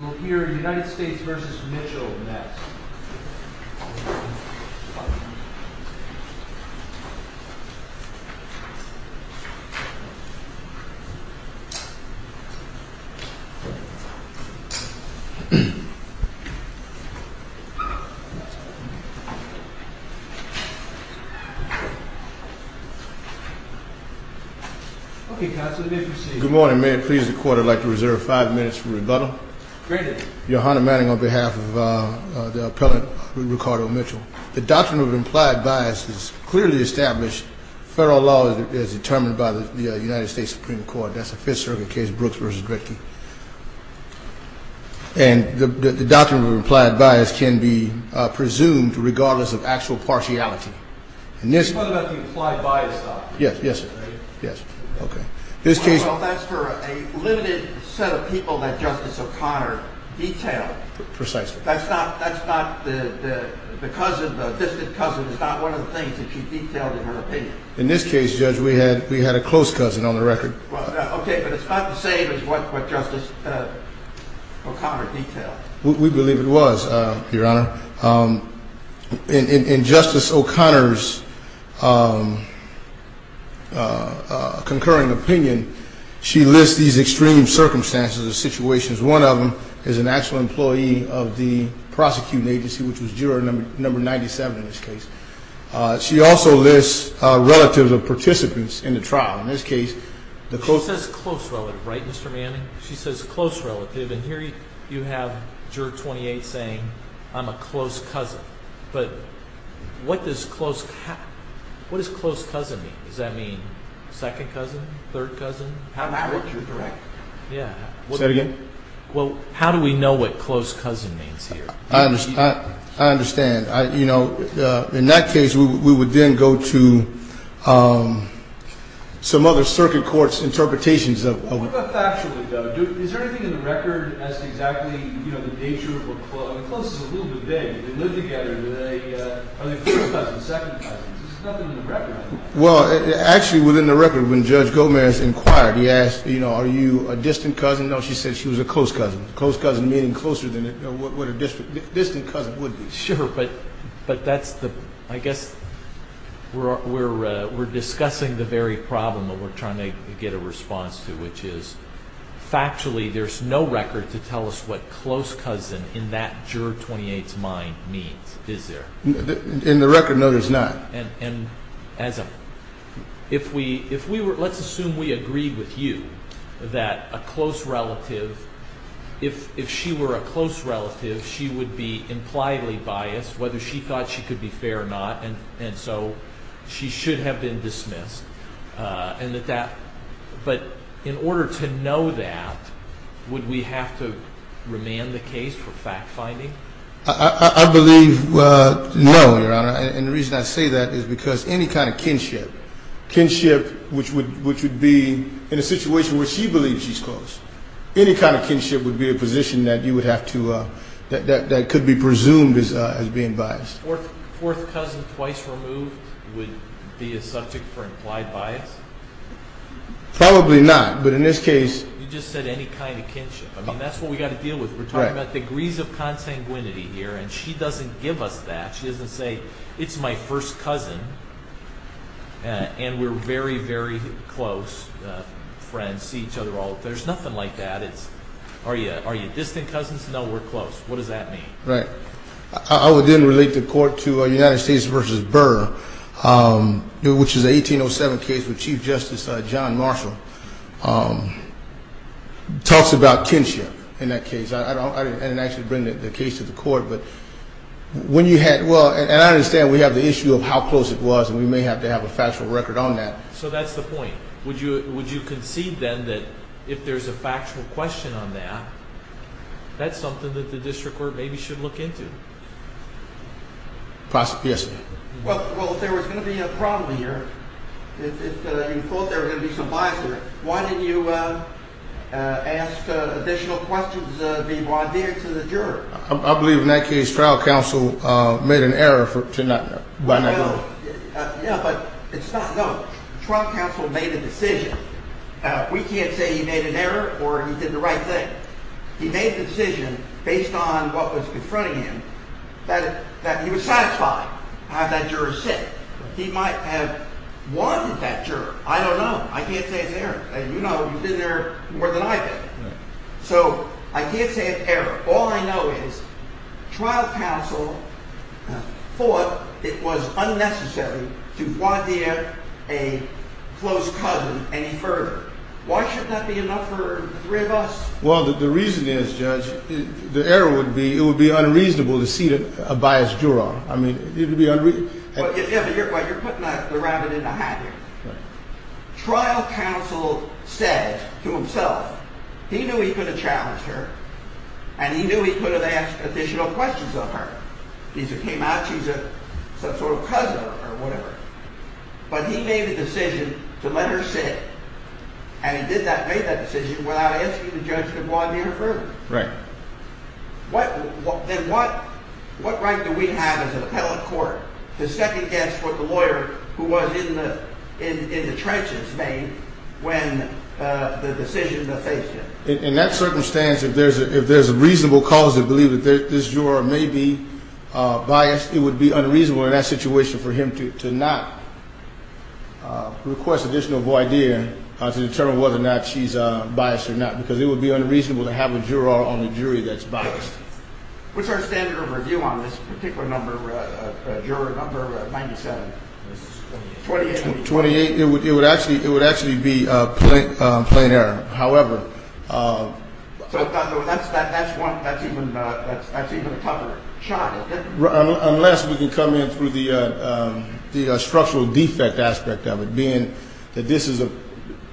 We'll hear United States versus Mitchell next. Okay, Counselor, you may proceed. Good morning. May it please the Court, I'd like to reserve five minutes for rebuttal. Your Honor, Manning, on behalf of the Appellant Ricardo Mitchell, the doctrine of implied bias is clearly established. Federal law is determined by the United States Supreme Court. That's the Fifth Circuit case, Brooks v. Drickey. And the doctrine of implied bias can be presumed regardless of actual partiality. And this... Yes, yes, yes. Okay. Well, that's for a limited set of people that Justice O'Connor detailed. Precisely. That's not... the distant cousin is not one of the things that she detailed in her opinion. In this case, Judge, we had a close cousin on the record. Okay, but it's not the same as what Justice O'Connor detailed. We believe it was, Your Honor. In Justice O'Connor's concurring opinion, she lists these extreme circumstances or situations. One of them is an actual employee of the prosecuting agency, which was juror number 97 in this case. She also lists relatives of participants in the trial. In this case, the close... She says close relative, right, Mr. Manning? She says close relative, and here you have juror 28 saying, I'm a close cousin. But what does close... what does close cousin mean? Does that mean second cousin, third cousin? On average, you're correct. Yeah. Say it again. Well, how do we know what close cousin means here? I understand. You know, in that case, we would then go to some other circuit court's interpretations of... What about factually, though? Is there anything in the record as to exactly, you know, the nature of what close... Close is a little bit vague. They live together. Are they close cousins, second cousins? There's nothing in the record. Well, actually, within the record, when Judge Gomez inquired, he asked, you know, are you a distant cousin? No, she said she was a close cousin. Close cousin meaning closer than what a distant cousin would be. Sure, but that's the... We're discussing the very problem that we're trying to get a response to, which is factually there's no record to tell us what close cousin in that juror 28's mind means, is there? In the record, no, there's not. And as a... if we were... let's assume we agreed with you that a close relative, if she were a close relative, she would be impliedly biased, whether she thought she could be fair or not, and so she should have been dismissed, and that that... But in order to know that, would we have to remand the case for fact-finding? I believe no, Your Honor, and the reason I say that is because any kind of kinship, kinship which would be in a situation where she believes she's close, any kind of kinship would be a position that you would have to... that could be presumed as being biased. Fourth cousin twice removed would be a subject for implied bias? Probably not, but in this case... You just said any kind of kinship. I mean, that's what we've got to deal with. We're talking about degrees of consanguinity here, and she doesn't give us that. She doesn't say, it's my first cousin, and we're very, very close friends, see each other all... There's nothing like that. It's, are you distant cousins? No, we're close. What does that mean? Right. I would then relate the court to United States v. Burr, which is a 1807 case where Chief Justice John Marshall talks about kinship in that case. I didn't actually bring the case to the court, but when you had... Well, and I understand we have the issue of how close it was, and we may have to have a factual record on that. So that's the point. Would you concede then that if there's a factual question on that, that's something that the district court maybe should look into? Possibly, yes, ma'am. Well, if there was going to be a problem here, if you thought there was going to be some bias there, why didn't you ask additional questions of the audience and the juror? I believe in that case, trial counsel made an error to not... No, but it's not, no. Trial counsel made a decision. We can't say he made an error or he did the right thing. He made the decision based on what was confronting him, that he was satisfied to have that juror sit. He might have wanted that juror. I don't know. I can't say it's an error. You know, you've been there more than I have been. All I know is trial counsel thought it was unnecessary to guardia a close cousin any further. Why should that be enough for the three of us? Well, the reason is, Judge, the error would be it would be unreasonable to see a biased juror. I mean, it would be unreasonable... Well, you're putting the rabbit in the hat here. Trial counsel said to himself, he knew he could have challenged her, and he knew he could have asked additional questions of her. She came out, she's some sort of cousin or whatever. But he made the decision to let her sit. And he made that decision without asking the judge to guardia her further. Right. Then what right do we have as an appellate court to second-guess what the lawyer who was in the trenches made when the decision was made? In that circumstance, if there's a reasonable cause to believe that this juror may be biased, it would be unreasonable in that situation for him to not request additional guardia to determine whether or not she's biased or not, because it would be unreasonable to have a juror on the jury that's biased. What's our standard of review on this particular number, juror number 97? 28. 28. It would actually be a plain error. However... That's even a tougher shot. Unless we can come in through the structural defect aspect of it, being that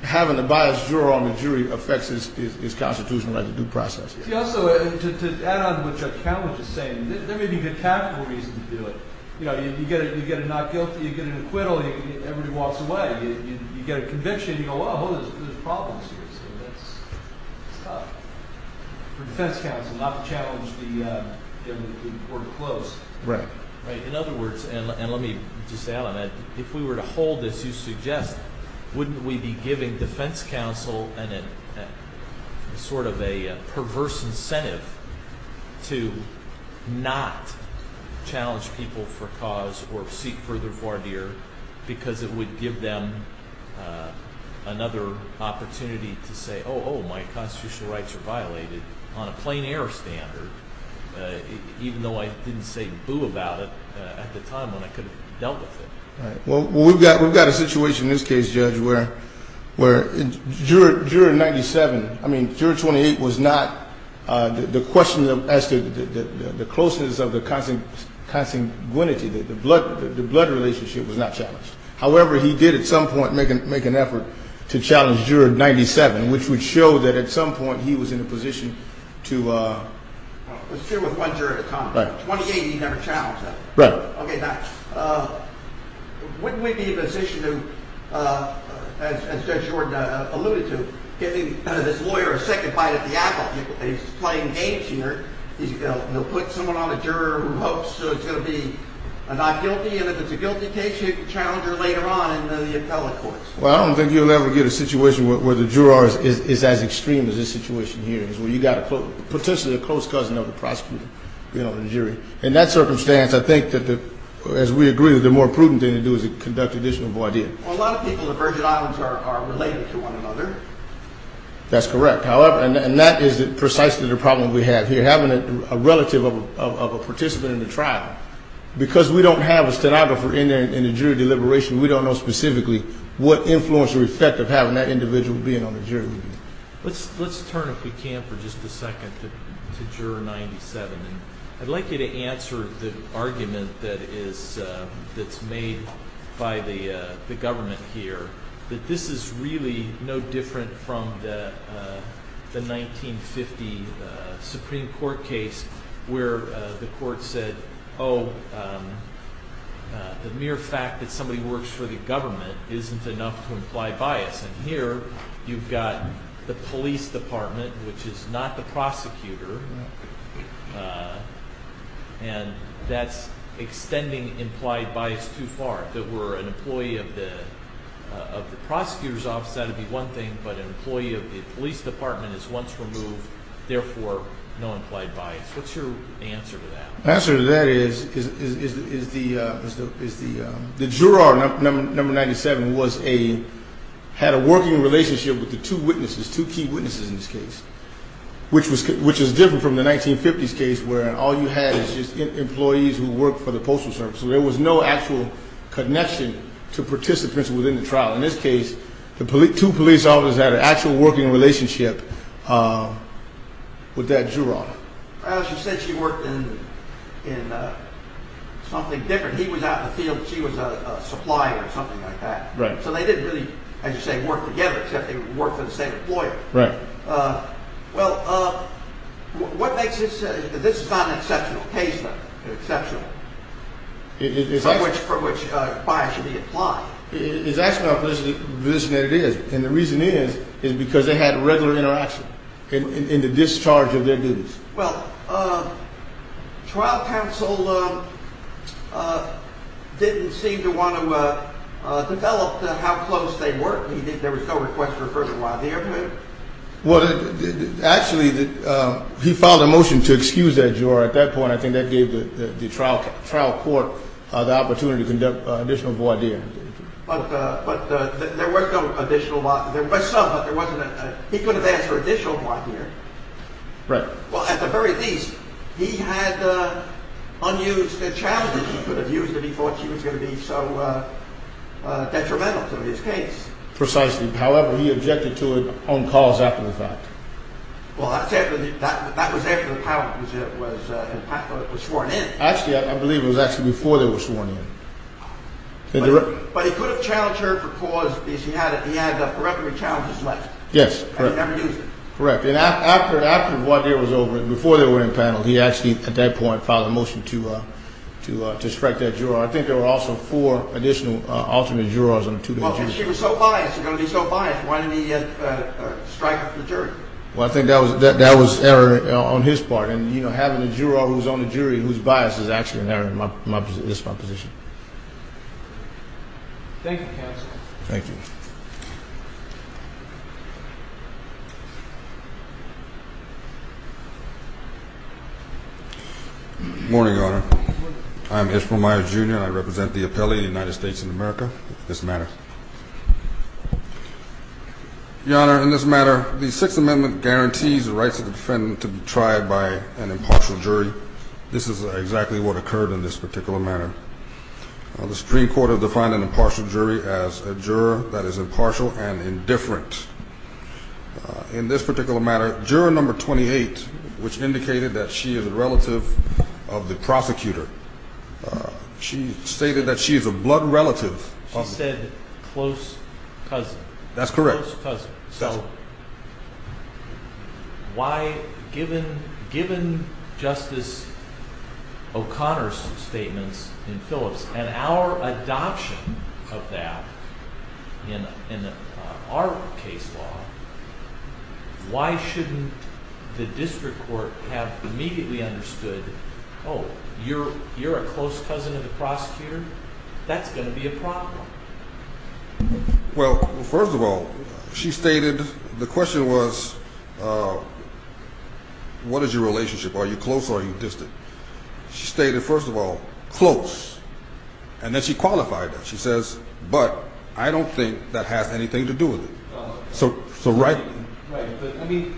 having a biased juror on the jury affects his constitutional right to due process. See, also, to add on to what Judge Cowen was just saying, there may be good capital reasons to do it. You know, you get a not guilty, you get an acquittal, everybody walks away. You get a conviction, you go, well, there's problems here. So that's tough for defense counsel not to challenge the court of close. Right. Right. In other words, and let me just add on that, if we were to hold this, wouldn't we be giving defense counsel sort of a perverse incentive to not challenge people for cause or seek further voir dire because it would give them another opportunity to say, oh, oh, my constitutional rights are violated on a plain error standard, even though I didn't say boo about it at the time when I could have dealt with it. Right. Well, we've got a situation in this case, Judge, where Juror 97, I mean, Juror 28 was not the question as to the closeness of the consanguinity, the blood relationship was not challenged. However, he did at some point make an effort to challenge Juror 97, which would show that at some point he was in a position to... Let's deal with one juror at a time. Right. 28 he never challenged. Right. Okay. Now, wouldn't we be in a position to, as Judge Jordan alluded to, giving this lawyer a second bite at the apple? He's playing games here. He'll put someone on the juror who hopes it's going to be not guilty, and if it's a guilty case, he can challenge her later on in the appellate courts. Well, I don't think you'll ever get a situation where the juror is as extreme as this situation here, where you've got potentially a close cousin of the prosecutor, you know, the jury. In that circumstance, I think that, as we agree, the more prudent thing to do is conduct additional voir dire. Well, a lot of people in the Virgin Islands are related to one another. That's correct. And that is precisely the problem we have here, having a relative of a participant in the trial. Because we don't have a stenographer in there in the jury deliberation, we don't know specifically what influence or effect of having that individual being on the jury. Let's turn, if we can, for just a second, to Juror 97. I'd like you to answer the argument that is made by the government here, that this is really no different from the 1950 Supreme Court case where the court said, oh, the mere fact that somebody works for the government isn't enough to imply bias. And here you've got the police department, which is not the prosecutor, and that's extending implied bias too far. If it were an employee of the prosecutor's office, that would be one thing, but an employee of the police department is once removed, therefore no implied bias. What's your answer to that? My answer to that is the juror, number 97, had a working relationship with the two witnesses, two key witnesses in this case, which is different from the 1950s case where all you had is just employees who worked for the postal service. So there was no actual connection to participants within the trial. In this case, the two police officers had an actual working relationship with that juror. Well, she said she worked in something different. He was out in the field and she was a supplier or something like that. So they didn't really, as you say, work together except they worked for the same employer. Right. Well, what makes this – this is not an exceptional case, though, exceptional, from which bias should be implied. It's actually not a position that it is, and the reason is is because they had regular interaction in the discharge of their duties. Well, trial counsel didn't seem to want to develop how close they were. He didn't think there was no request for further voir dire. Well, actually, he filed a motion to excuse that juror at that point. I think that gave the trial court the opportunity to conduct additional voir dire. But there was no additional voir dire. There was some, but there wasn't – he could have asked for additional voir dire. Right. Well, at the very least, he had unused a challenge that he could have used if he thought she was going to be so detrimental to his case. Precisely. However, he objected to it on calls after the fact. Well, that was after the power was sworn in. Actually, I believe it was actually before they were sworn in. But he could have challenged her for cause because he had a record of challenges left. Yes, correct. And he never used it. Correct. And after voir dire was over, before they were impaneled, he actually, at that point, filed a motion to strike that juror. I think there were also four additional alternate jurors on the two different jurors. Well, because she was so biased. She was going to be so biased. Why didn't he strike her for the jury? Well, I think that was error on his part. And, you know, having a juror who's on the jury whose bias is actually an error is my position. Thank you, counsel. Thank you. Good morning, Your Honor. Good morning. I'm Ishmael Myers, Jr., and I represent the appellate of the United States of America. This matter. Your Honor, in this matter, the Sixth Amendment guarantees the rights of the defendant to be tried by an impartial jury. This is exactly what occurred in this particular matter. The Supreme Court has defined an impartial jury as a juror that is impartial and indifferent. In this particular matter, juror number 28, which indicated that she is a relative of the prosecutor, she stated that she is a blood relative. She said close cousin. That's correct. Close cousin. That's right. So why, given Justice O'Connor's statements in Phillips and our adoption of that in our case law, why shouldn't the district court have immediately understood, oh, you're a close cousin of the prosecutor? That's going to be a problem. Well, first of all, she stated the question was, what is your relationship? Are you close or are you distant? She stated, first of all, close, and then she qualified that. She says, but I don't think that has anything to do with it. So right. Right. But, I mean,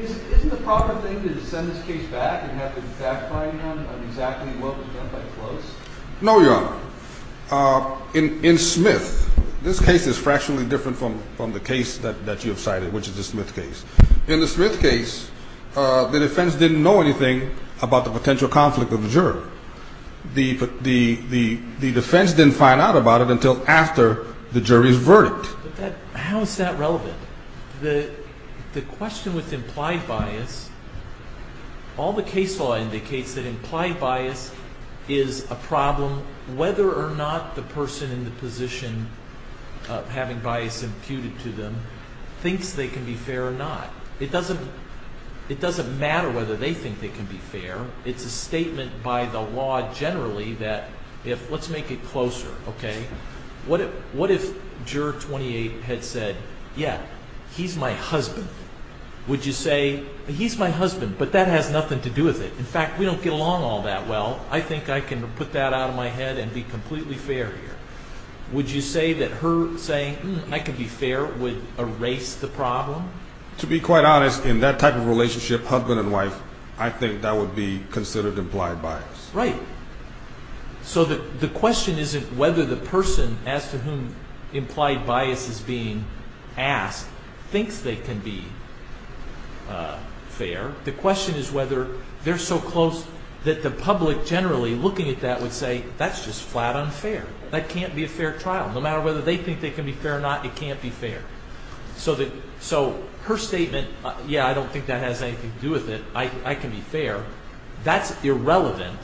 isn't the proper thing to send this case back and have it backfired on exactly what was done by the close? No, Your Honor. In Smith, this case is fractionally different from the case that you have cited, which is the Smith case. In the Smith case, the defense didn't know anything about the potential conflict of the jury. The defense didn't find out about it until after the jury's verdict. How is that relevant? The question with implied bias, all the case law indicates that implied bias is a problem whether or not the person in the position of having bias imputed to them thinks they can be fair or not. It doesn't matter whether they think they can be fair. It's a statement by the law generally that if, let's make it closer, okay, what if juror 28 had said, yeah, he's my husband. Would you say, he's my husband, but that has nothing to do with it. In fact, we don't get along all that well. I think I can put that out of my head and be completely fair here. Would you say that her saying, hmm, I can be fair would erase the problem? To be quite honest, in that type of relationship, husband and wife, I think that would be considered implied bias. Right. So the question isn't whether the person as to whom implied bias is being asked thinks they can be fair. The question is whether they're so close that the public generally looking at that would say, that's just flat unfair. That can't be a fair trial. No matter whether they think they can be fair or not, it can't be fair. So her statement, yeah, I don't think that has anything to do with it. I can be fair. That's irrelevant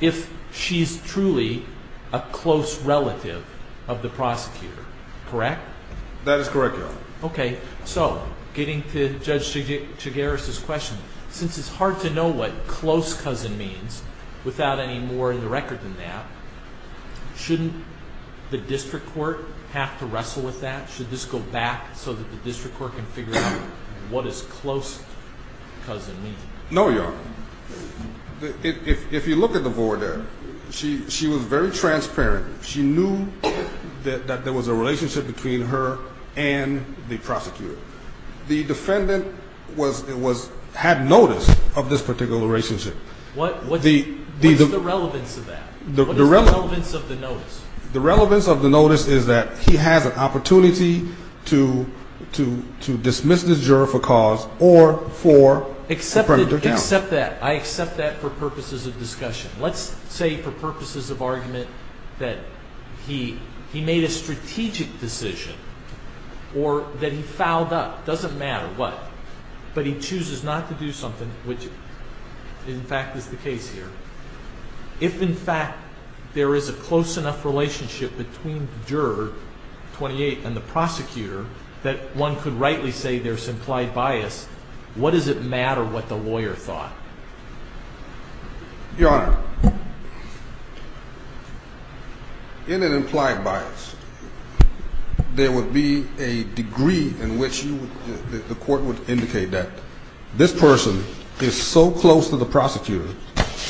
if she's truly a close relative of the prosecutor. Correct? That is correct, Your Honor. Okay. So getting to Judge Chigaris' question, since it's hard to know what close cousin means without any more in the record than that, shouldn't the district court have to wrestle with that? Should this go back so that the district court can figure out what is close cousin mean? No, Your Honor. If you look at the voir dire, she was very transparent. She knew that there was a relationship between her and the prosecutor. The defendant had notice of this particular relationship. What's the relevance of that? What is the relevance of the notice? The relevance of the notice is that he has an opportunity to dismiss the juror for cause or for premeditated action. I accept that for purposes of discussion. Let's say for purposes of argument that he made a strategic decision or that he fouled up. It doesn't matter what. But he chooses not to do something, which in fact is the case here. If, in fact, there is a close enough relationship between the juror, 28, and the prosecutor that one could rightly say there's implied bias, what does it matter what the lawyer thought? Your Honor, in an implied bias, there would be a degree in which the court would indicate that this person is so close to the prosecutor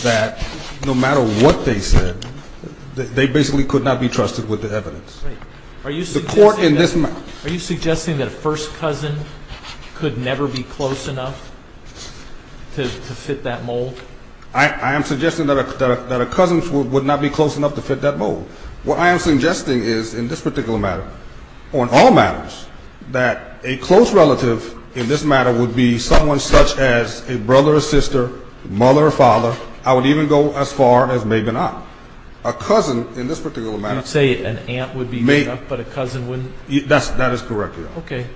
that no matter what they said, they basically could not be trusted with the evidence. Are you suggesting that a first cousin could never be close enough to fit that mold? I am suggesting that a cousin would not be close enough to fit that mold. What I am suggesting is in this particular matter, on all matters, that a close relative in this matter would be someone such as a brother or sister, mother or father. I would even go as far as maybe not. A cousin in this particular matter. You say an aunt would be close enough, but a cousin wouldn't? That is correct, Your Honor. Okay.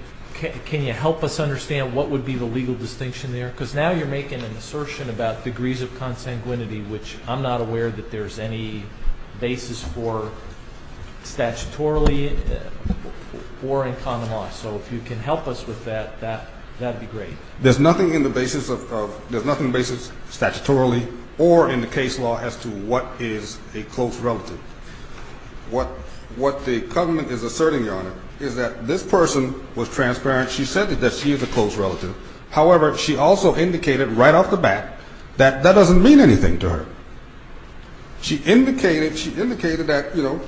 Can you help us understand what would be the legal distinction there? Because now you're making an assertion about degrees of consanguinity, which I'm not aware that there's any basis for statutorily or in common law. So if you can help us with that, that would be great. There's nothing in the basis of – there's nothing in the basis statutorily or in the case law as to what is a close relative. What the government is asserting, Your Honor, is that this person was transparent. She said that she is a close relative. However, she also indicated right off the bat that that doesn't mean anything to her. She indicated that, you know,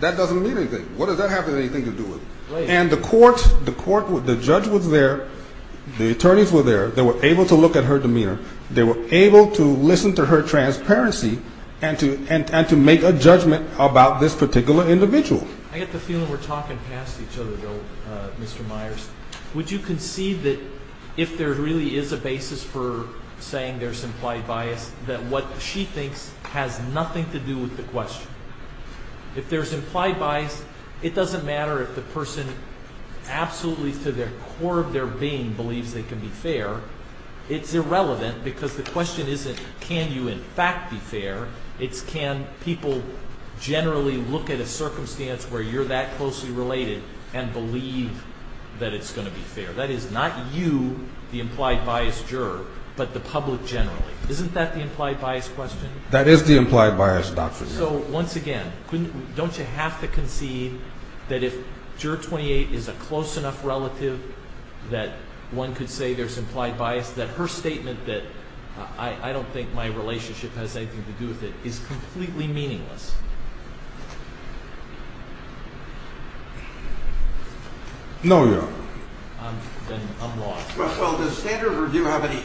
that doesn't mean anything. What does that have anything to do with it? And the court, the judge was there. The attorneys were there. They were able to look at her demeanor. They were able to listen to her transparency and to make a judgment about this particular individual. I get the feeling we're talking past each other, though, Mr. Myers. Would you concede that if there really is a basis for saying there's implied bias, that what she thinks has nothing to do with the question? If there's implied bias, it doesn't matter if the person absolutely to the core of their being believes they can be fair. It's irrelevant because the question isn't can you in fact be fair. It's can people generally look at a circumstance where you're that closely related and believe that it's going to be fair. That is not you, the implied bias juror, but the public generally. Isn't that the implied bias question? That is the implied bias, Dr. Young. So, once again, don't you have to concede that if Juror 28 is a close enough relative that one could say there's implied bias, that her statement that I don't think my relationship has anything to do with it is completely meaningless? No, Your Honor. Then I'm lost. Well, does standard review have any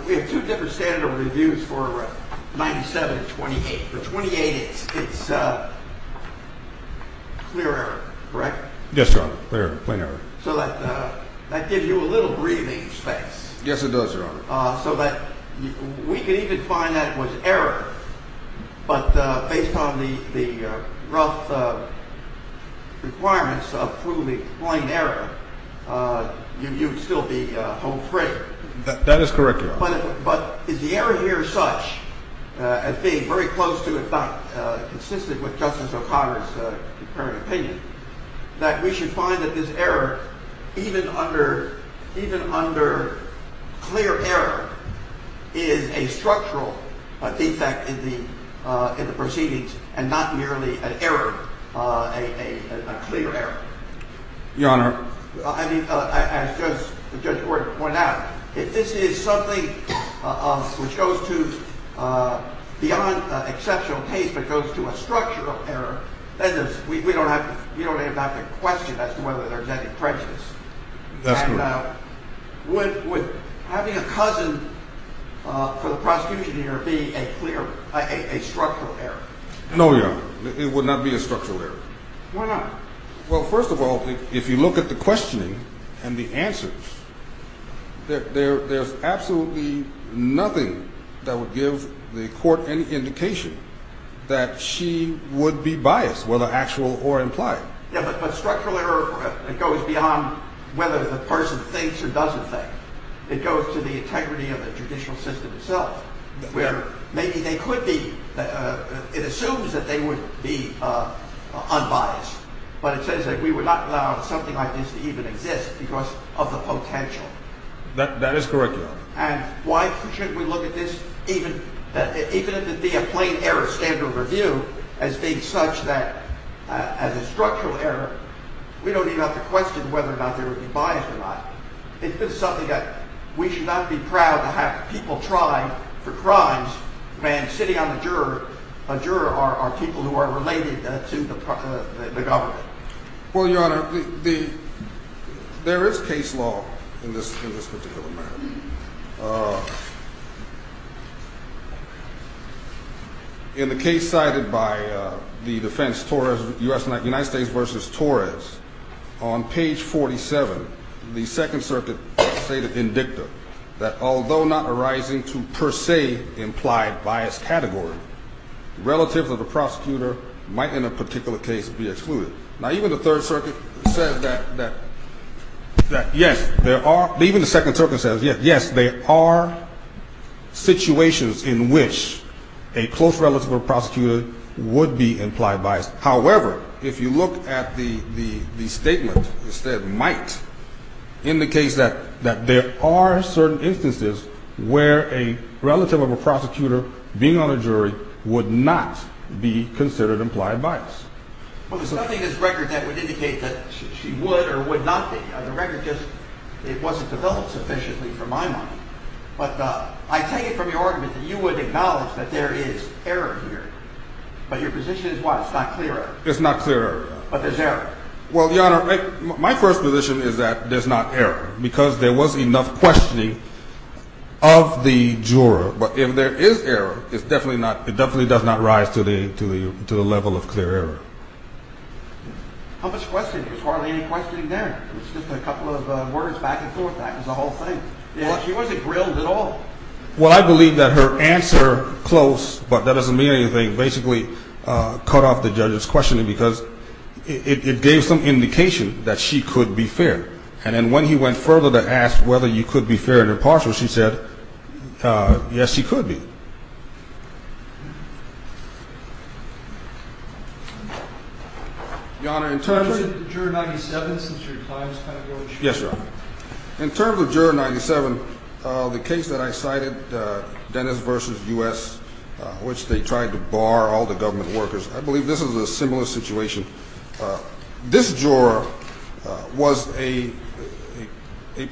– we have two different standard reviews for 97 and 28. For 28, it's clear error, correct? Yes, Your Honor, clear error, plain error. So that gives you a little breathing space. Yes, it does, Your Honor. So that we could even find that it was error, but based on the rough requirements of proving plain error, you'd still be home free. That is correct, Your Honor. But is the error here such as being very close to, if not consistent with Justice O'Connor's comparative opinion, that we should find that this error, even under clear error, is a structural defect in the proceedings and not merely an error, a clear error? Your Honor. I mean, as Judge Gordon pointed out, if this is something which goes to beyond exceptional case but goes to a structural error, then we don't even have to question as to whether there's any prejudice. That's true. And would having a cousin for the prosecution here be a clear – a structural error? No, Your Honor. It would not be a structural error. Why not? Well, first of all, if you look at the questioning and the answers, there's absolutely nothing that would give the court any indication that she would be biased, whether actual or implied. Yes, but structural error goes beyond whether the person thinks or doesn't think. It goes to the integrity of the judicial system itself, where maybe they could be – it assumes that they would be unbiased, but it says that we would not allow something like this to even exist because of the potential. That is correct, Your Honor. And why shouldn't we look at this, even if it be a plain error, standard of review, as being such that as a structural error, we don't even have to question whether or not they would be biased or not. It's just something that we should not be proud to have people try for crimes, when sitting on the juror are people who are related to the government. Well, Your Honor, there is case law in this particular matter. In the case cited by the defense, United States v. Torres, on page 47, the Second Circuit stated in dicta that, although not arising to per se imply a biased category, relatives of the prosecutor might, in a particular case, be excluded. Now, even the Third Circuit says that yes, there are – even the Second Circuit says yes, there are situations in which a close relative of a prosecutor would be implied biased. However, if you look at the statement, it said might indicates that there are certain instances where a relative of a prosecutor being on a jury would not be considered implied biased. Well, there's nothing in this record that would indicate that she would or would not be. The record just – it wasn't developed sufficiently for my mind. But I take it from your argument that you would acknowledge that there is error here. But your position is what? It's not clear. It's not clear. But there's error. Well, Your Honor, my first position is that there's not error, because there was enough questioning of the juror. But if there is error, it's definitely not – it definitely does not rise to the level of clear error. How much questioning? There's hardly any questioning there. It's just a couple of words back and forth. That is the whole thing. She wasn't grilled at all. Well, I believe that her answer, close, but that doesn't mean anything, basically cut off the judge's questioning because it gave some indication that she could be fair. And then when he went further to ask whether you could be fair and impartial, she said, yes, he could be. Your Honor, in terms of – Did you refer to Juror 97 since your client was kind of grilled? Yes, Your Honor. In terms of Juror 97, the case that I cited, Dennis v. U.S., which they tried to bar all the government workers, I believe this is a similar situation. This juror was a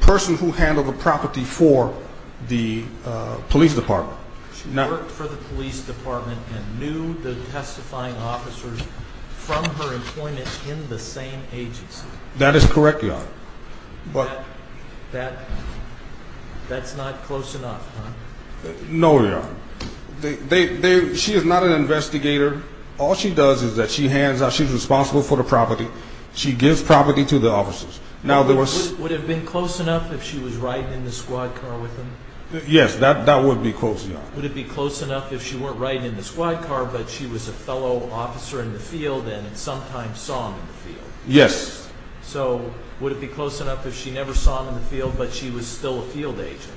person who handled the property for the police department. She worked for the police department and knew the testifying officers from her employment in the same agency. That is correct, Your Honor. That's not close enough, huh? No, Your Honor. She is not an investigator. All she does is that she hands out – she's responsible for the property. She gives property to the officers. Would it have been close enough if she was riding in the squad car with them? Yes, that would be close enough. Would it be close enough if she weren't riding in the squad car, but she was a fellow officer in the field and sometimes saw him in the field? Yes. So would it be close enough if she never saw him in the field, but she was still a field agent?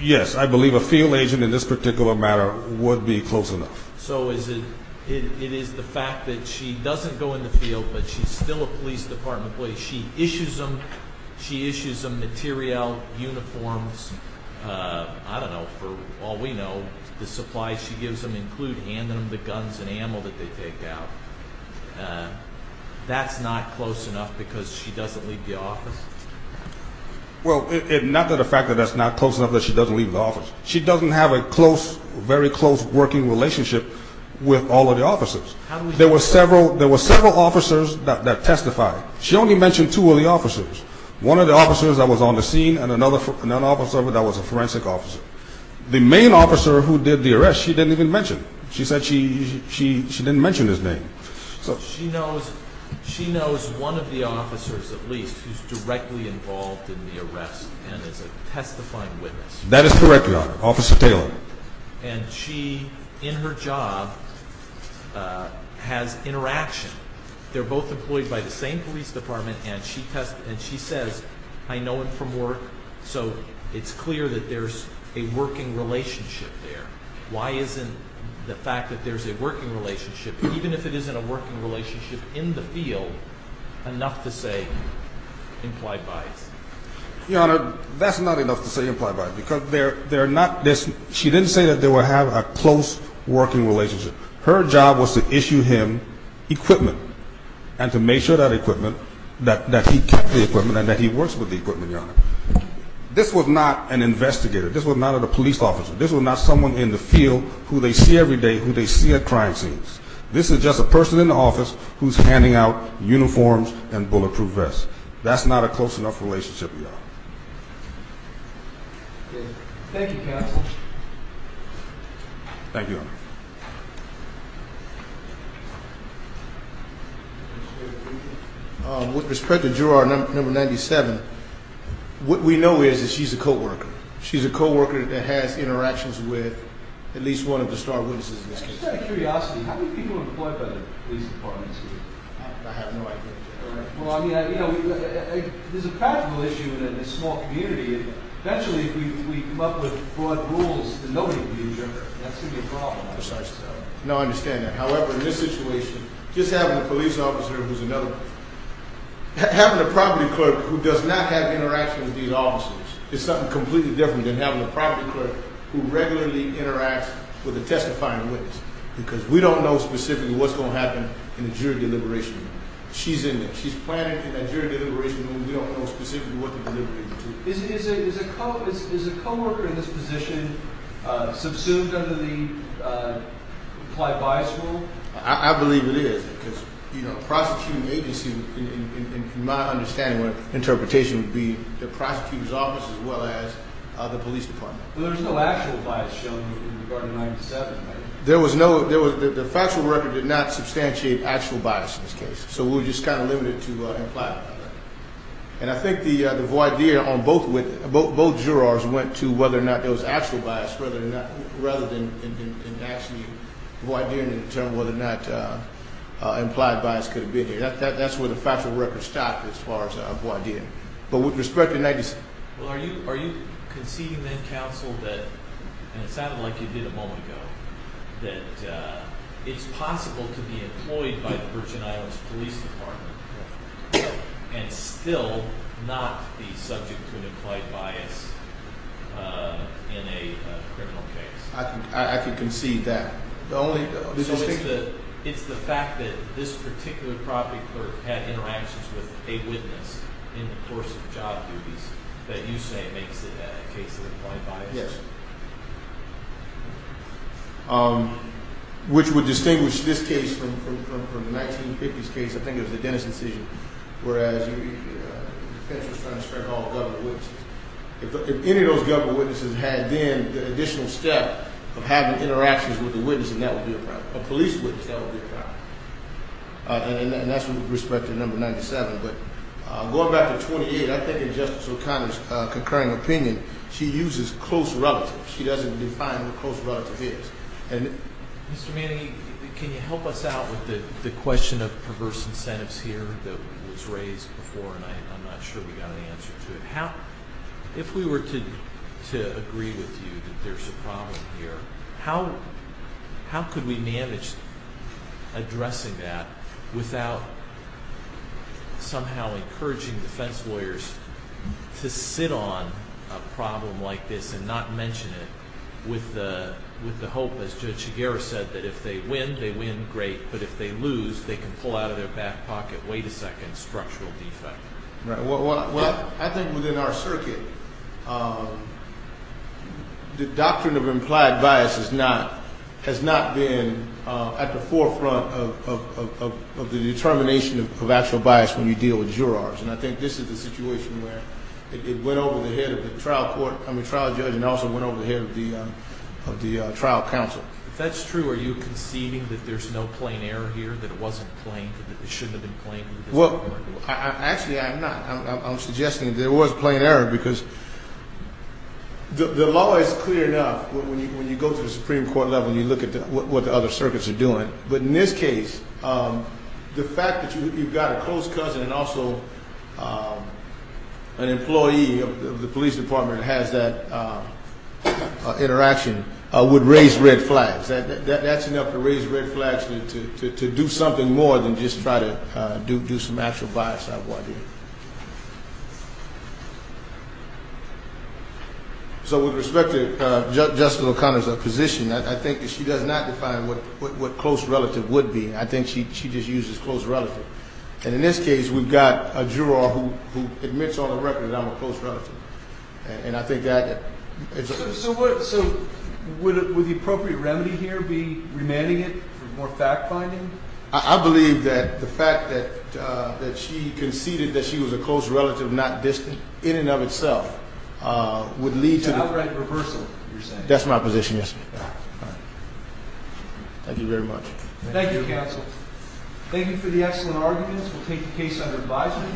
Yes, I believe a field agent in this particular matter would be close enough. So it is the fact that she doesn't go in the field, but she's still a police department employee. She issues them materiel, uniforms. I don't know. For all we know, the supplies she gives them include handing them the guns and ammo that they take out. That's not close enough because she doesn't leave the office? Well, not that the fact that that's not close enough that she doesn't leave the office. She doesn't have a very close working relationship with all of the officers. There were several officers that testified. She only mentioned two of the officers, one of the officers that was on the scene and another officer that was a forensic officer. The main officer who did the arrest, she didn't even mention. She said she didn't mention his name. She knows one of the officers at least who's directly involved in the arrest and is a testifying witness. That is correct, Your Honor. Officer Taylor. And she, in her job, has interaction. They're both employed by the same police department, and she says, I know him from work. So it's clear that there's a working relationship there. Why isn't the fact that there's a working relationship, even if it isn't a working relationship in the field, enough to say implied bias? Your Honor, that's not enough to say implied bias because they're not this. She didn't say that they would have a close working relationship. Her job was to issue him equipment and to make sure that equipment, that he kept the equipment and that he works with the equipment, Your Honor. This was not an investigator. This was not a police officer. This was not someone in the field who they see every day, who they see at crime scenes. This is just a person in the office who's handing out uniforms and bulletproof vests. That's not a close enough relationship, Your Honor. Thank you, Counsel. Thank you, Your Honor. With respect to juror number 97, what we know is that she's a co-worker. She's a co-worker that has interactions with at least one of the star witnesses in this case. Just out of curiosity, how many people are employed by the police departments here? I have no idea, Your Honor. Well, I mean, you know, there's a practical issue in a small community. Eventually, if we come up with broad rules that nobody can be a juror, that's going to be a problem. Precisely. No, I understand that. However, in this situation, just having a police officer who's another one, having a property clerk who does not have interactions with these officers is something completely different than having a property clerk who regularly interacts with a testifying witness. Because we don't know specifically what's going to happen in the jury deliberation room. She's in there. She's planning in that jury deliberation room. We don't know specifically what they're deliberating to. Is a co-worker in this position subsumed under the implied bias rule? I believe it is. Because, you know, a prosecuting agency, in my understanding or interpretation, would be the prosecutor's office as well as the police department. But there's no actual bias shown in regard to 97, right? The factual record did not substantiate actual bias in this case. So we're just kind of limited to implied bias. And I think the voir dire on both jurors went to whether or not there was actual bias rather than actually voir dire and determine whether or not implied bias could have been here. That's where the factual record stopped as far as voir dire. But with respect to 97. Well, are you conceding then, counsel, that, and it sounded like you did a moment ago, that it's possible to be employed by the Virgin Islands Police Department and still not be subject to an implied bias in a criminal case? I can concede that. So it's the fact that this particular property clerk had interactions with a witness in the course of job duties that you say makes it a case of implied bias? Yes. Which would distinguish this case from the 1950s case. I think it was the Dennis incision, whereas the defense was trying to spread all government witnesses. If any of those government witnesses had then the additional step of having interactions with a witness, and that would be a problem. A police witness, that would be a problem. And that's with respect to number 97. But going back to 28, I think in Justice O'Connor's concurring opinion, she uses close relative. She doesn't define what close relative is. Mr. Manning, can you help us out with the question of perverse incentives here that was raised before? I'm not sure we got an answer to it. If we were to agree with you that there's a problem here, how could we manage addressing that without somehow encouraging defense lawyers to sit on a problem like this and not mention it? With the hope, as Judge Shigeru said, that if they win, they win, great, but if they lose, they can pull out of their back pocket, wait a second, structural defect. Right. Well, I think within our circuit, the doctrine of implied bias has not been at the forefront of the determination of actual bias when you deal with jurors. And I think this is the situation where it went over the head of the trial court, I mean, trial judge, and also went over the head of the trial counsel. If that's true, are you conceding that there's no plain error here, that it wasn't plain, that it shouldn't have been plain? Well, actually, I'm not. I'm suggesting there was plain error because the law is clear enough when you go to the Supreme Court level and you look at what the other circuits are doing. But in this case, the fact that you've got a close cousin and also an employee of the police department has that interaction would raise red flags. That's enough to raise red flags to do something more than just try to do some actual bias. So with respect to Justice O'Connor's position, I think that she does not define what close relative would be. I think she just uses close relative. And in this case, we've got a juror who admits on the record that I'm a close relative. And I think that – So would the appropriate remedy here be remanding it for more fact-finding? I believe that the fact that she conceded that she was a close relative, not distant, in and of itself, would lead to the – It's an outright reversal, you're saying. That's my position, yes. All right. Thank you very much. Thank you, counsel. Thank you for the excellent arguments. We'll take the case under advisement. The clerk will bring the court. Please rise.